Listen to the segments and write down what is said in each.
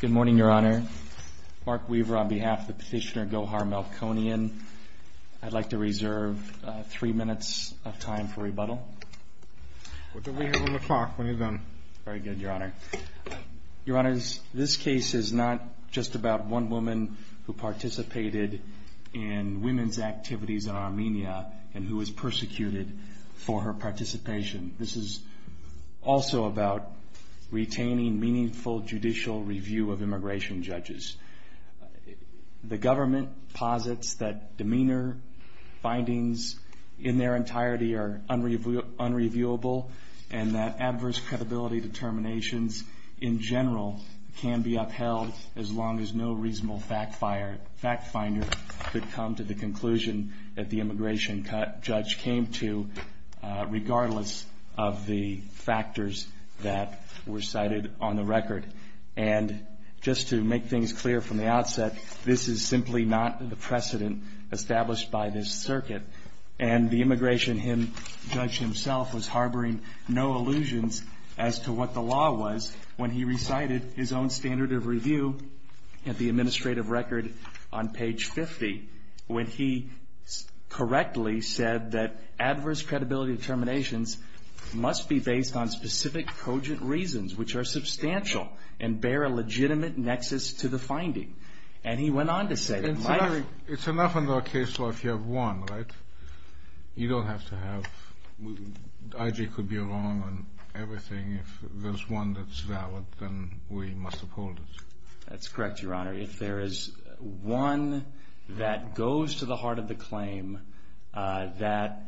Good morning, Your Honor. Mark Weaver on behalf of the petitioner Gohar Melkonyan. I'd like to reserve three minutes of time for rebuttal. What do we have on the clock? What have you done? Very good, Your Honor. Your Honors, this case is not just about one woman who participated in women's activities in Armenia and who was persecuted for her participation. This is also about retaining meaningful judicial review of immigration judges. The government posits that demeanor findings in their entirety are unreviewable and that adverse credibility determinations in general can be upheld as long as no reasonable fact finder could come to the conclusion that the immigration judge came to, regardless of the factors that were cited on the record. And just to make things clear from the outset, this is simply not the precedent established by this circuit. And the immigration judge himself was harboring no illusions as to what the law was when he recited his own standard of review at the administrative record on page 50 when he correctly said that adverse credibility determinations must be based on specific cogent reasons which are substantial and bear a legitimate nexus to the finding. And he went on to say that my... It's enough in the case law if you have one, right? You don't have to have... If I.J. could be wrong on everything, if there's one that's valid, then we must uphold it. That's correct, Your Honor. If there is one that goes to the heart of the claim that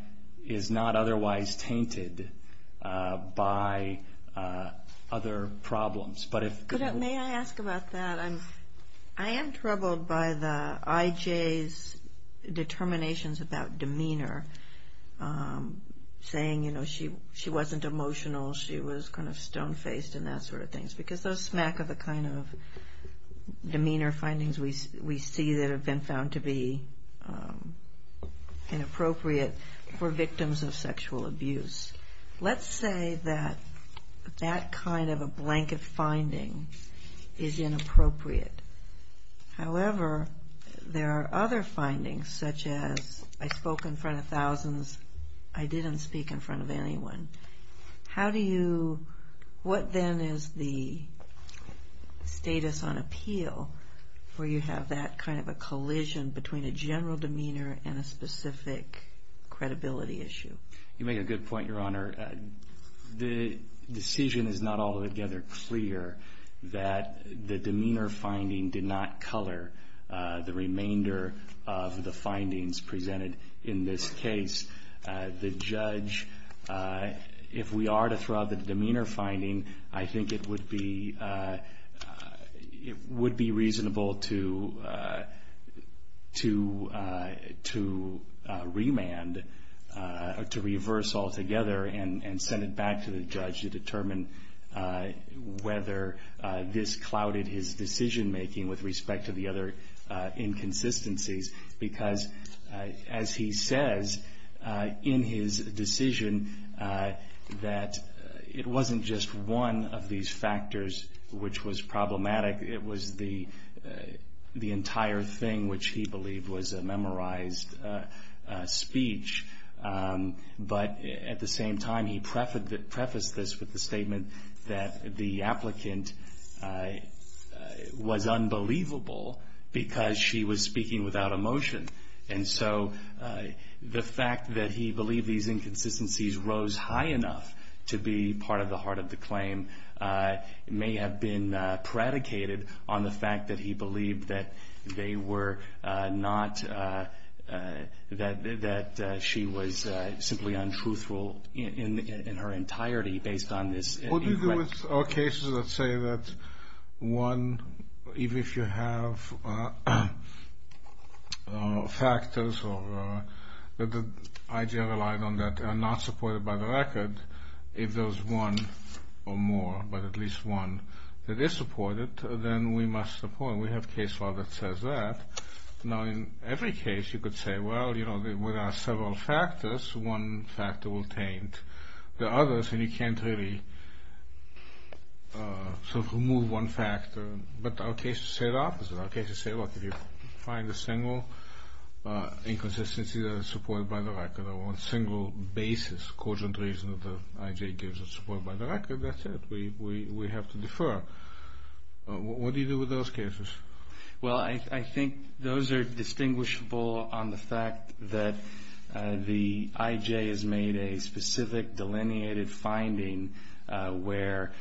is not otherwise tainted by other problems, but if... May I ask about that? I am troubled by the I.J.'s determinations about demeanor, saying, you know, she wasn't emotional, she was kind of stone-faced and that sort of thing. Because those smack of a kind of demeanor findings we see that have been found to be inappropriate for victims of sexual abuse. Let's say that that kind of a blanket finding is inappropriate. However, there are other findings such as, I spoke in front of thousands, I didn't speak in front of anyone. How do you... What then is the status on appeal where you have that kind of a collision between a general demeanor and a specific credibility issue? You make a good point, Your Honor. The decision is not altogether clear that the demeanor finding did not color the remainder of the findings presented in this case. The judge, if we are to throw out the demeanor finding, I think it would be reasonable to remand or to reverse altogether and send it back to the judge to determine whether this clouded his decision-making with respect to the other inconsistencies. Because, as he says, in his decision that it wasn't just one of these factors which was problematic, it was the entire thing which he believed was a memorized speech. But, at the same time, he prefaced this with the statement that the applicant was unbelievable because she was speaking without emotion. And so, the fact that he believed these inconsistencies rose high enough to be part of the heart of the claim may have been predicated on the fact that he believed that she was simply untruthful in her entirety based on this... What do you do with all cases that say that one, even if you have factors that the IGL relied on that are not supported by the record, if there's one or more, but at least one that is supported, then we must support it. We have a case law that says that. Now, in every case, you could say, well, you know, there are several factors. One factor will taint the others, and you can't really sort of remove one factor. But our cases say the opposite. Our cases say, look, if you find a single inconsistency that is supported by the record, or one single basis, cogent reason that the IJ gives is supported by the record, that's it. We have to defer. What do you do with those cases? Well, I think those are distinguishable on the fact that the IJ has made a specific delineated finding where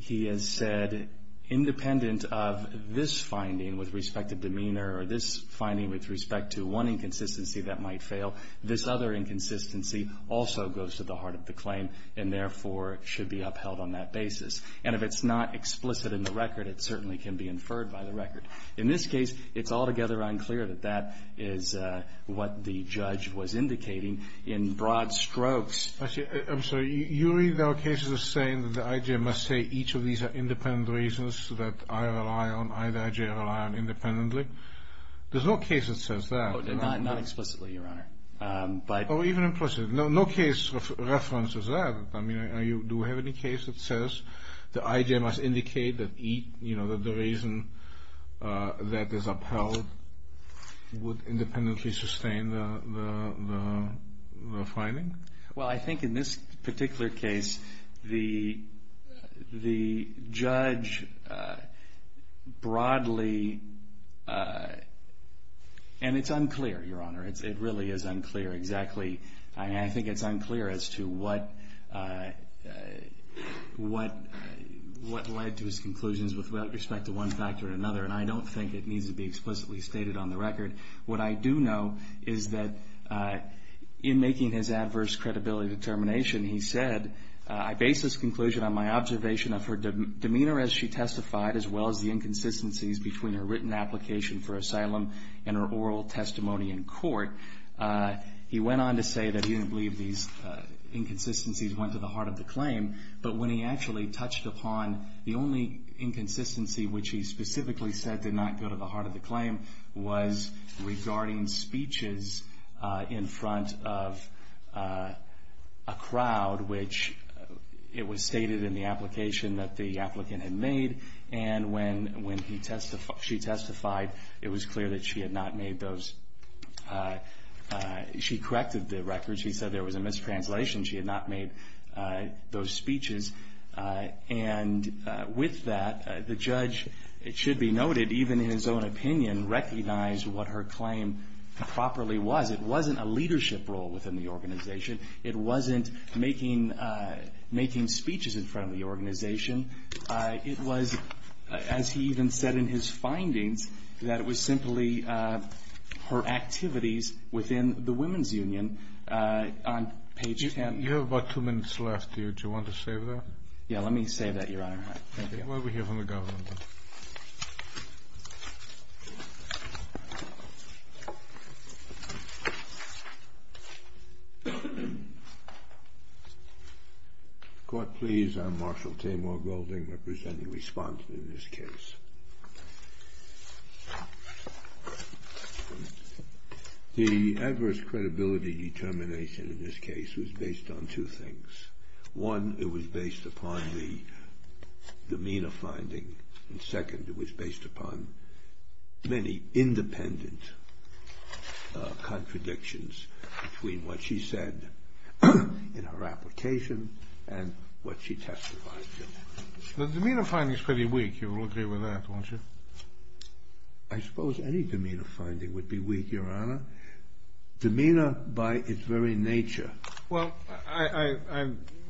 he has said independent of this finding with respect to demeanor or this finding with respect to one inconsistency that might fail, this other inconsistency also goes to the heart of the claim and, therefore, should be upheld on that basis. And if it's not explicit in the record, it certainly can be inferred by the record. In this case, it's altogether unclear that that is what the judge was indicating in broad strokes. I'm sorry. You read our cases as saying that the IJ must say each of these are independent reasons that I rely on, either IJ or I rely on independently. There's no case that says that. Not explicitly, Your Honor. Oh, even implicit. No case references that. I mean, do we have any case that says the IJ must indicate that the reason that is upheld would independently sustain the finding? Well, I think in this particular case, the judge broadly, and it's unclear, Your Honor. It really is unclear exactly. I mean, I think it's unclear as to what led to his conclusions with respect to one factor or another, and I don't think it needs to be explicitly stated on the record. What I do know is that in making his adverse credibility determination, he said, I base this conclusion on my observation of her demeanor as she testified, as well as the inconsistencies between her written application for asylum and her oral testimony in court. He went on to say that he didn't believe these inconsistencies went to the heart of the claim, but when he actually touched upon the only inconsistency, which he specifically said did not go to the heart of the claim, was regarding speeches in front of a crowd, which it was stated in the application that the applicant had made, and when she testified, it was clear that she had not made those. She corrected the record. She said there was a mistranslation. She had not made those speeches, and with that, the judge, it should be noted, even in his own opinion, recognized what her claim properly was. It wasn't a leadership role within the organization. It wasn't making speeches in front of the organization. It was, as he even said in his findings, that it was simply her activities within the women's union. On page 10. You have about two minutes left here. Do you want to save that? Yes, let me save that, Your Honor. Thank you. While we hear from the government. Court, please. I'm Marshal Tamar Golding, representing respondent in this case. The adverse credibility determination in this case was based on two things. One, it was based upon the demeanor finding, and second, it was based upon many independent contradictions between what she said in her application and what she testified to. The demeanor finding is pretty weak. You will agree with that, won't you? I suppose any demeanor finding would be weak, Your Honor. Demeanor by its very nature. Well, I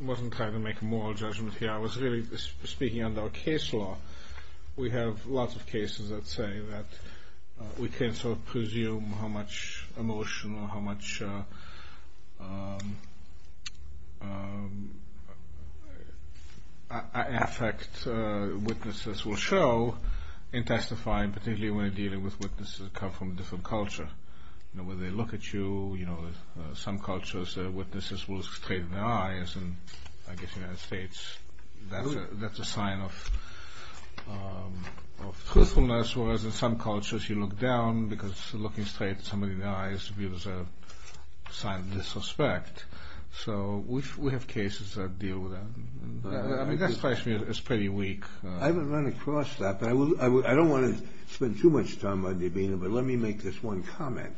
wasn't trying to make a moral judgment here. I was really speaking under a case law. We have lots of cases that say that we can sort of presume how much emotion or how much affect witnesses will show in testifying, particularly when dealing with witnesses coming from a different culture. You know, when they look at you, you know, some cultures witnesses will look straight in the eyes, and I guess in the United States that's a sign of truthfulness, whereas in some cultures you look down because looking straight in somebody's eyes reveals a sign of disrespect. So we have cases that deal with that. I mean, that strikes me as pretty weak. I haven't run across that, but I don't want to spend too much time on demeanor, but let me make this one comment,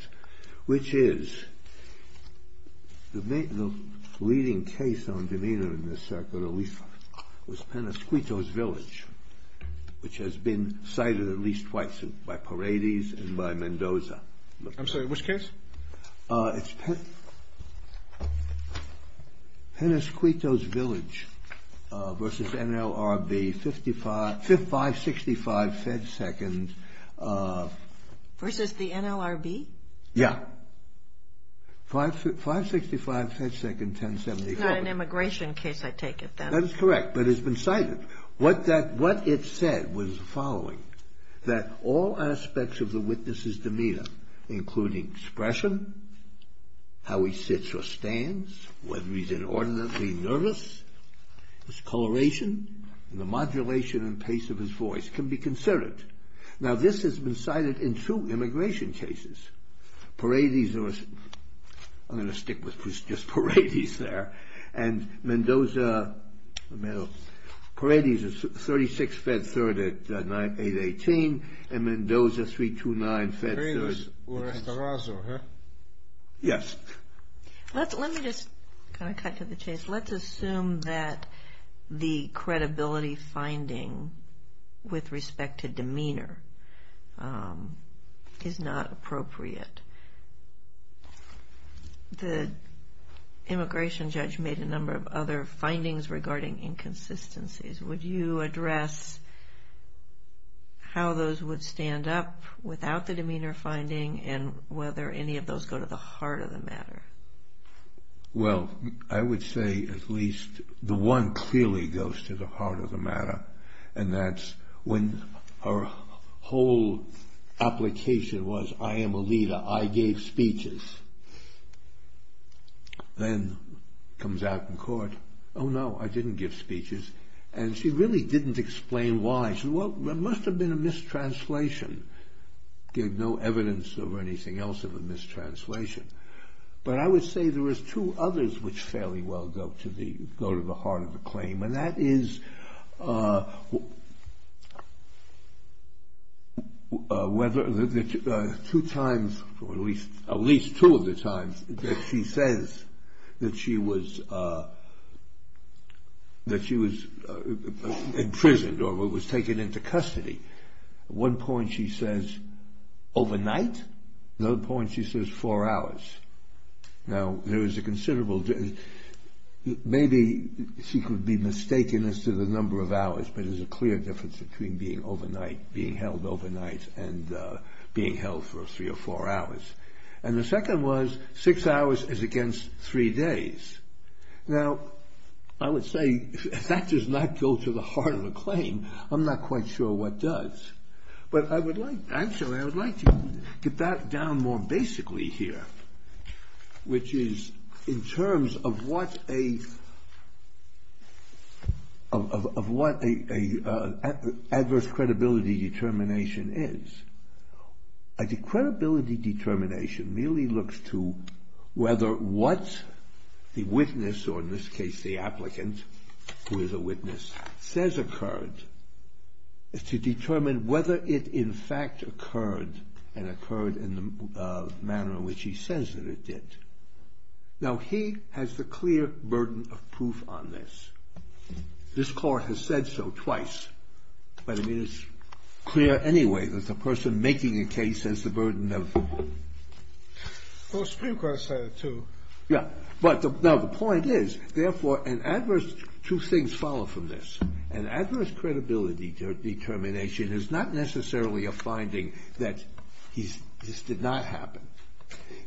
which is the leading case on demeanor in this circuit at least was Penasquito's Village, which has been cited at least twice by Paradis and by Mendoza. I'm sorry, which case? It's Penasquito's Village versus NLRB, 5565 Fed Second. Versus the NLRB? Yeah. 565 Fed Second, 1074. It's not an immigration case, I take it, then. That is correct, but it's been cited. What it said was the following, that all aspects of the witness's demeanor, including expression, how he sits or stands, whether he's inordinately nervous, his coloration, the modulation and pace of his voice, can be considered. Now this has been cited in two immigration cases. Paradis, I'm going to stick with just Paradis there, and Mendoza, Paradis is 36 Fed Third at 818, and Mendoza, 329 Fed Third. Paradis or Estorado, huh? Yes. Let me just kind of cut to the chase. Let's assume that the credibility finding with respect to demeanor is not appropriate. The immigration judge made a number of other findings regarding inconsistencies. Would you address how those would stand up without the demeanor finding and whether any of those go to the heart of the matter? Well, I would say at least the one clearly goes to the heart of the matter, and that's when her whole application was, I am a leader, I gave speeches. Then comes out in court, oh no, I didn't give speeches, and she really didn't explain why. She said, well, there must have been a mistranslation. There's no evidence or anything else of a mistranslation. But I would say there was two others which fairly well go to the heart of the claim, and that is whether the two times or at least two of the times that she says that she was imprisoned or was taken into custody. At one point she says overnight. At another point she says four hours. Now, maybe she could be mistaken as to the number of hours, but there's a clear difference between being held overnight and being held for three or four hours. And the second was six hours is against three days. Now, I would say that does not go to the heart of the claim. I'm not quite sure what does. But I would like to get that down more basically here, which is in terms of what an adverse credibility determination is. A credibility determination merely looks to whether what the witness, or in this case the applicant who is a witness, says occurred is to determine whether it in fact occurred and occurred in the manner in which he says that it did. Now, he has the clear burden of proof on this. This court has said so twice. But it is clear anyway that the person making the case has the burden of proof. Well, the Supreme Court said it too. Yeah. But now the point is, therefore, an adverse, two things follow from this. An adverse credibility determination is not necessarily a finding that this did not happen.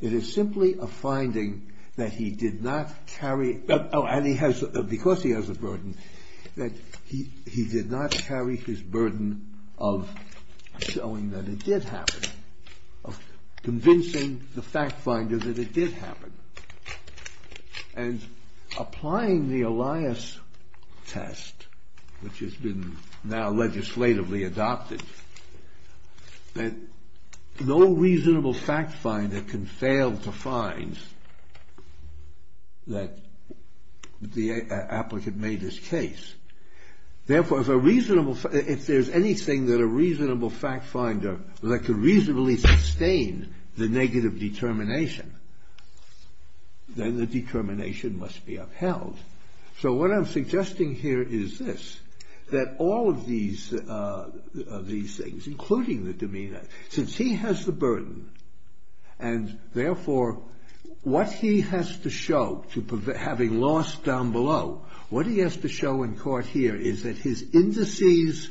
It is simply a finding that he did not carry, and because he has a burden, that he did not carry his burden of showing that it did happen, of convincing the fact finder that it did happen. And applying the Elias test, which has been now legislatively adopted, that no reasonable fact finder can fail to find that the applicant made his case. Therefore, if there is anything that a reasonable fact finder, that could reasonably sustain the negative determination, then the determination must be upheld. So what I'm suggesting here is this, that all of these things, including the demeanor, since he has the burden, and therefore, what he has to show, having lost down below, what he has to show in court here is that his indices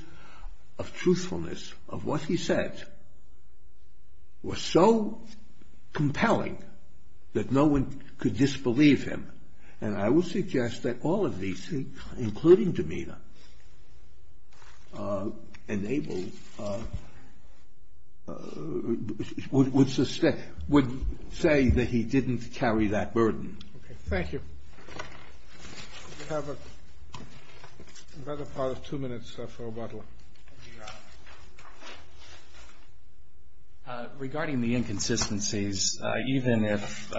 of truthfulness, of what he said, were so compelling that no one could disbelieve him. And I would suggest that all of these things, including demeanor, would say that he didn't carry that burden. Okay, thank you. We have another part of two minutes for Butler. Regarding the inconsistencies, even if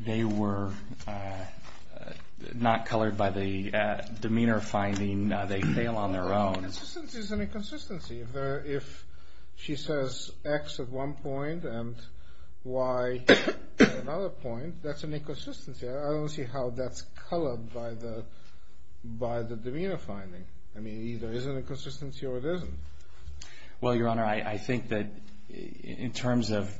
they were not colored by the demeanor finding, they fail on their own. Inconsistency is an inconsistency. If she says X at one point and Y at another point, that's an inconsistency. I don't see how that's colored by the demeanor finding. I mean, either it is an inconsistency or it isn't. Well, Your Honor, I think that in terms of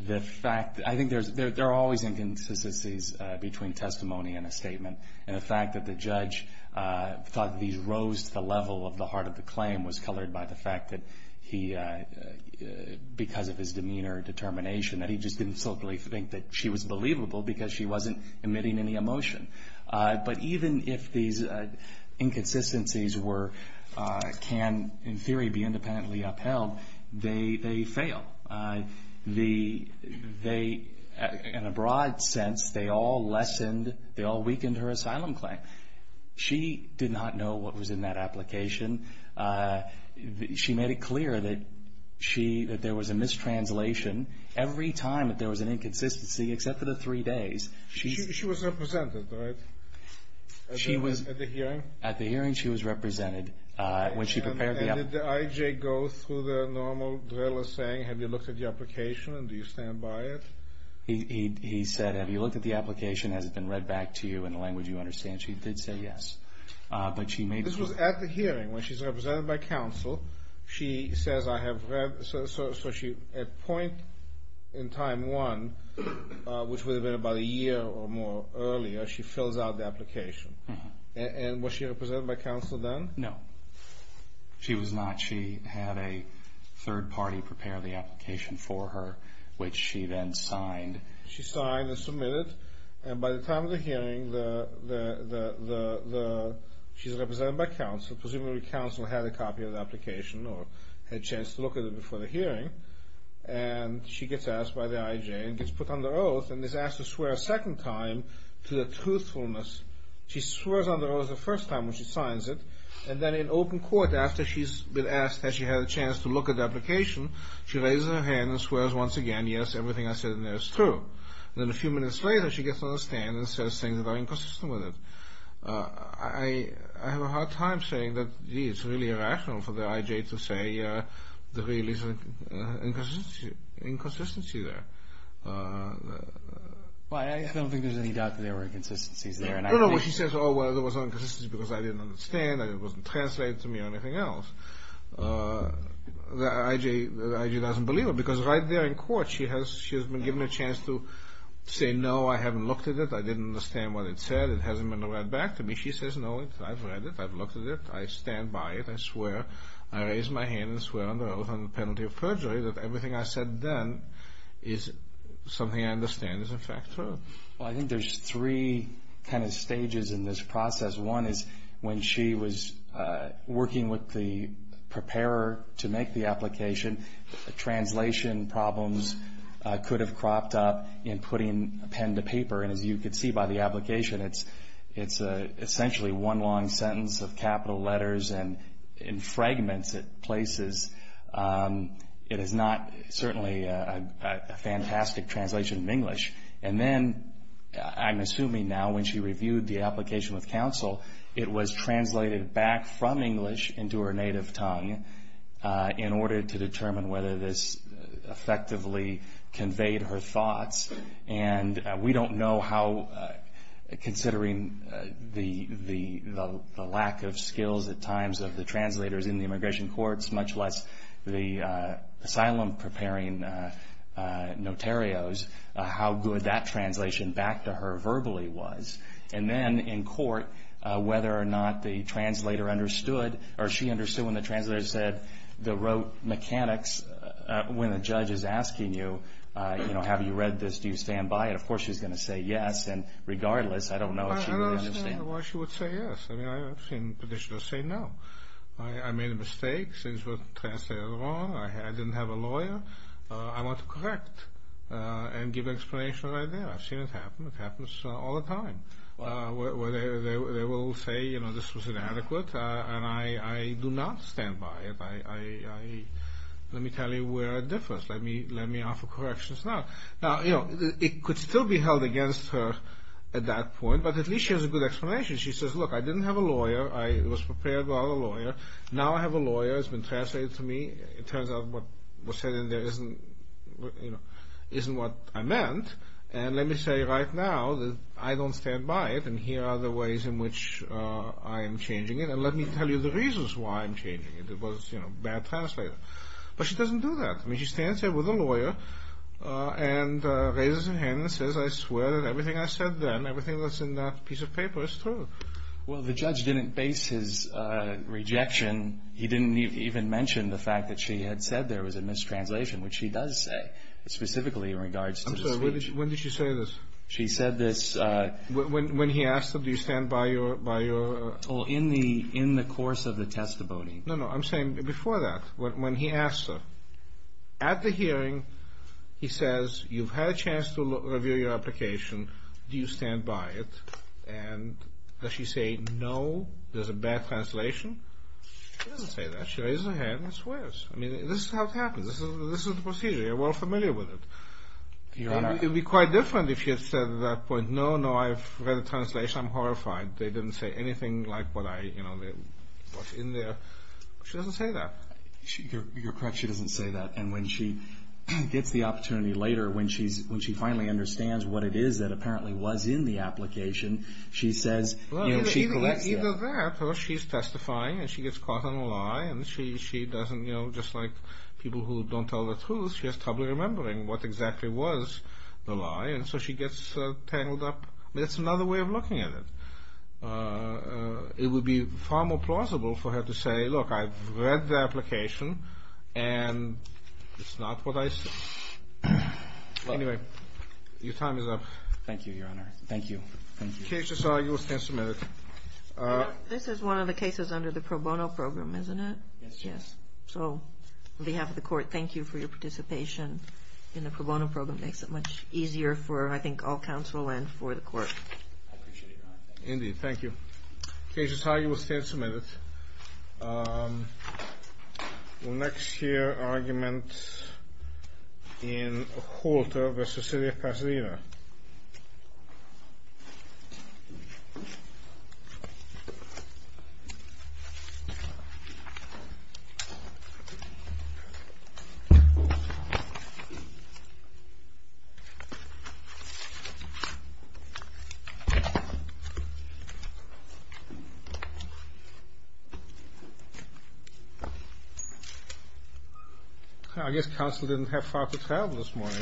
the fact, I think there are always inconsistencies between testimony and a statement. And the fact that the judge thought these rose to the level of the heart of the claim was colored by the fact that he, because of his demeanor determination, that he just didn't solely think that she was believable because she wasn't emitting any emotion. But even if these inconsistencies can, in theory, be independently upheld, they fail. In a broad sense, they all weakened her asylum claim. She did not know what was in that application. She made it clear that there was a mistranslation. Every time that there was an inconsistency, except for the three days. She was represented, right? At the hearing? At the hearing, she was represented. And did the IJ go through the normal driller saying, have you looked at the application and do you stand by it? He said, have you looked at the application? Has it been read back to you in the language you understand? She did say yes. This was at the hearing when she's represented by counsel. She says, I have read. So at point in time one, which would have been about a year or more earlier, she fills out the application. And was she represented by counsel then? No. She was not. She had a third party prepare the application for her, which she then signed. She signed and submitted. And by the time of the hearing, she's represented by counsel. Presumably counsel had a copy of the application or had a chance to look at it before the hearing. And she gets asked by the IJ and gets put under oath and is asked to swear a second time to the truthfulness. She swears under oath the first time when she signs it. And then in open court, after she's been asked, has she had a chance to look at the application, she raises her hand and swears once again, yes, everything I said in there is true. Then a few minutes later, she gets on the stand and says things that are inconsistent with it. I have a hard time saying that, gee, it's really irrational for the IJ to say there really is an inconsistency there. I don't think there's any doubt that there were inconsistencies there. No, no. She says, oh, well, there was an inconsistency because I didn't understand and it wasn't translated to me or anything else. The IJ doesn't believe it because right there in court she has been given a chance to say, no, I haven't looked at it, I didn't understand what it said, it hasn't been read back to me. She says, no, I've read it, I've looked at it, I stand by it, I swear. I raise my hand and swear under oath on the penalty of perjury that everything I said then is something I understand is in fact true. Well, I think there's three kind of stages in this process. One is when she was working with the preparer to make the application, the translation problems could have cropped up in putting a pen to paper, and as you could see by the application, it's essentially one long sentence of capital letters and in fragments it places. And then I'm assuming now when she reviewed the application with counsel, it was translated back from English into her native tongue in order to determine whether this effectively conveyed her thoughts. And we don't know how, considering the lack of skills at times of the translators in the immigration courts, much less the asylum-preparing notarios, how good that translation back to her verbally was. And then in court, whether or not the translator understood or she understood when the translator said the rote mechanics, when the judge is asking you, you know, have you read this, do you stand by it, of course she's going to say yes, and regardless, I don't know if she really understood. I don't understand why she would say yes. I mean, I've seen petitioners say no. I made a mistake. Things were translated wrong. I didn't have a lawyer. I want to correct and give an explanation right there. I've seen it happen. It happens all the time where they will say, you know, this was inadequate, and I do not stand by it. Let me tell you where it differs. Let me offer corrections now. Now, you know, it could still be held against her at that point, but at least she has a good explanation. She says, look, I didn't have a lawyer. I was prepared without a lawyer. Now I have a lawyer. It's been translated to me. It turns out what was said in there isn't, you know, isn't what I meant, and let me say right now that I don't stand by it, and here are the ways in which I am changing it, and let me tell you the reasons why I'm changing it. It was, you know, bad translator. But she doesn't do that. I mean, she stands there with a lawyer and raises her hand and says, I swear that everything I said then, everything that's in that piece of paper is true. Well, the judge didn't base his rejection. He didn't even mention the fact that she had said there was a mistranslation, which he does say, specifically in regards to the speech. I'm sorry. When did she say this? She said this. When he asked her, do you stand by your? Well, in the course of the testimony. No, no. I'm saying before that, when he asked her. At the hearing, he says, you've had a chance to review your application. Do you stand by it? And does she say, no, there's a bad translation? She doesn't say that. She raises her hand and swears. I mean, this is how it happens. This is the procedure. You're well familiar with it. It would be quite different if she had said at that point, no, no, I've read the translation. I'm horrified. They didn't say anything like what I, you know, what's in there. She doesn't say that. You're correct. She doesn't say that. And when she gets the opportunity later, when she finally understands what it is that apparently was in the application, she says, you know, she collects that. Either that or she's testifying and she gets caught on a lie. And she doesn't, you know, just like people who don't tell the truth, she has trouble remembering what exactly was the lie. And so she gets tangled up. That's another way of looking at it. It would be far more plausible for her to say, look, I've read the application, and it's not what I said. Anyway, your time is up. Thank you, Your Honor. Thank you. Cases are, you will stand submitted. This is one of the cases under the pro bono program, isn't it? Yes. So on behalf of the court, thank you for your participation in the pro bono program. It makes it much easier for, I think, all counsel and for the court. I appreciate it, Your Honor. Indeed. Thank you. Cases are, you will stand submitted. We'll next hear arguments in Holter v. City of Pasadena. I guess counsel didn't have far to travel this morning, huh?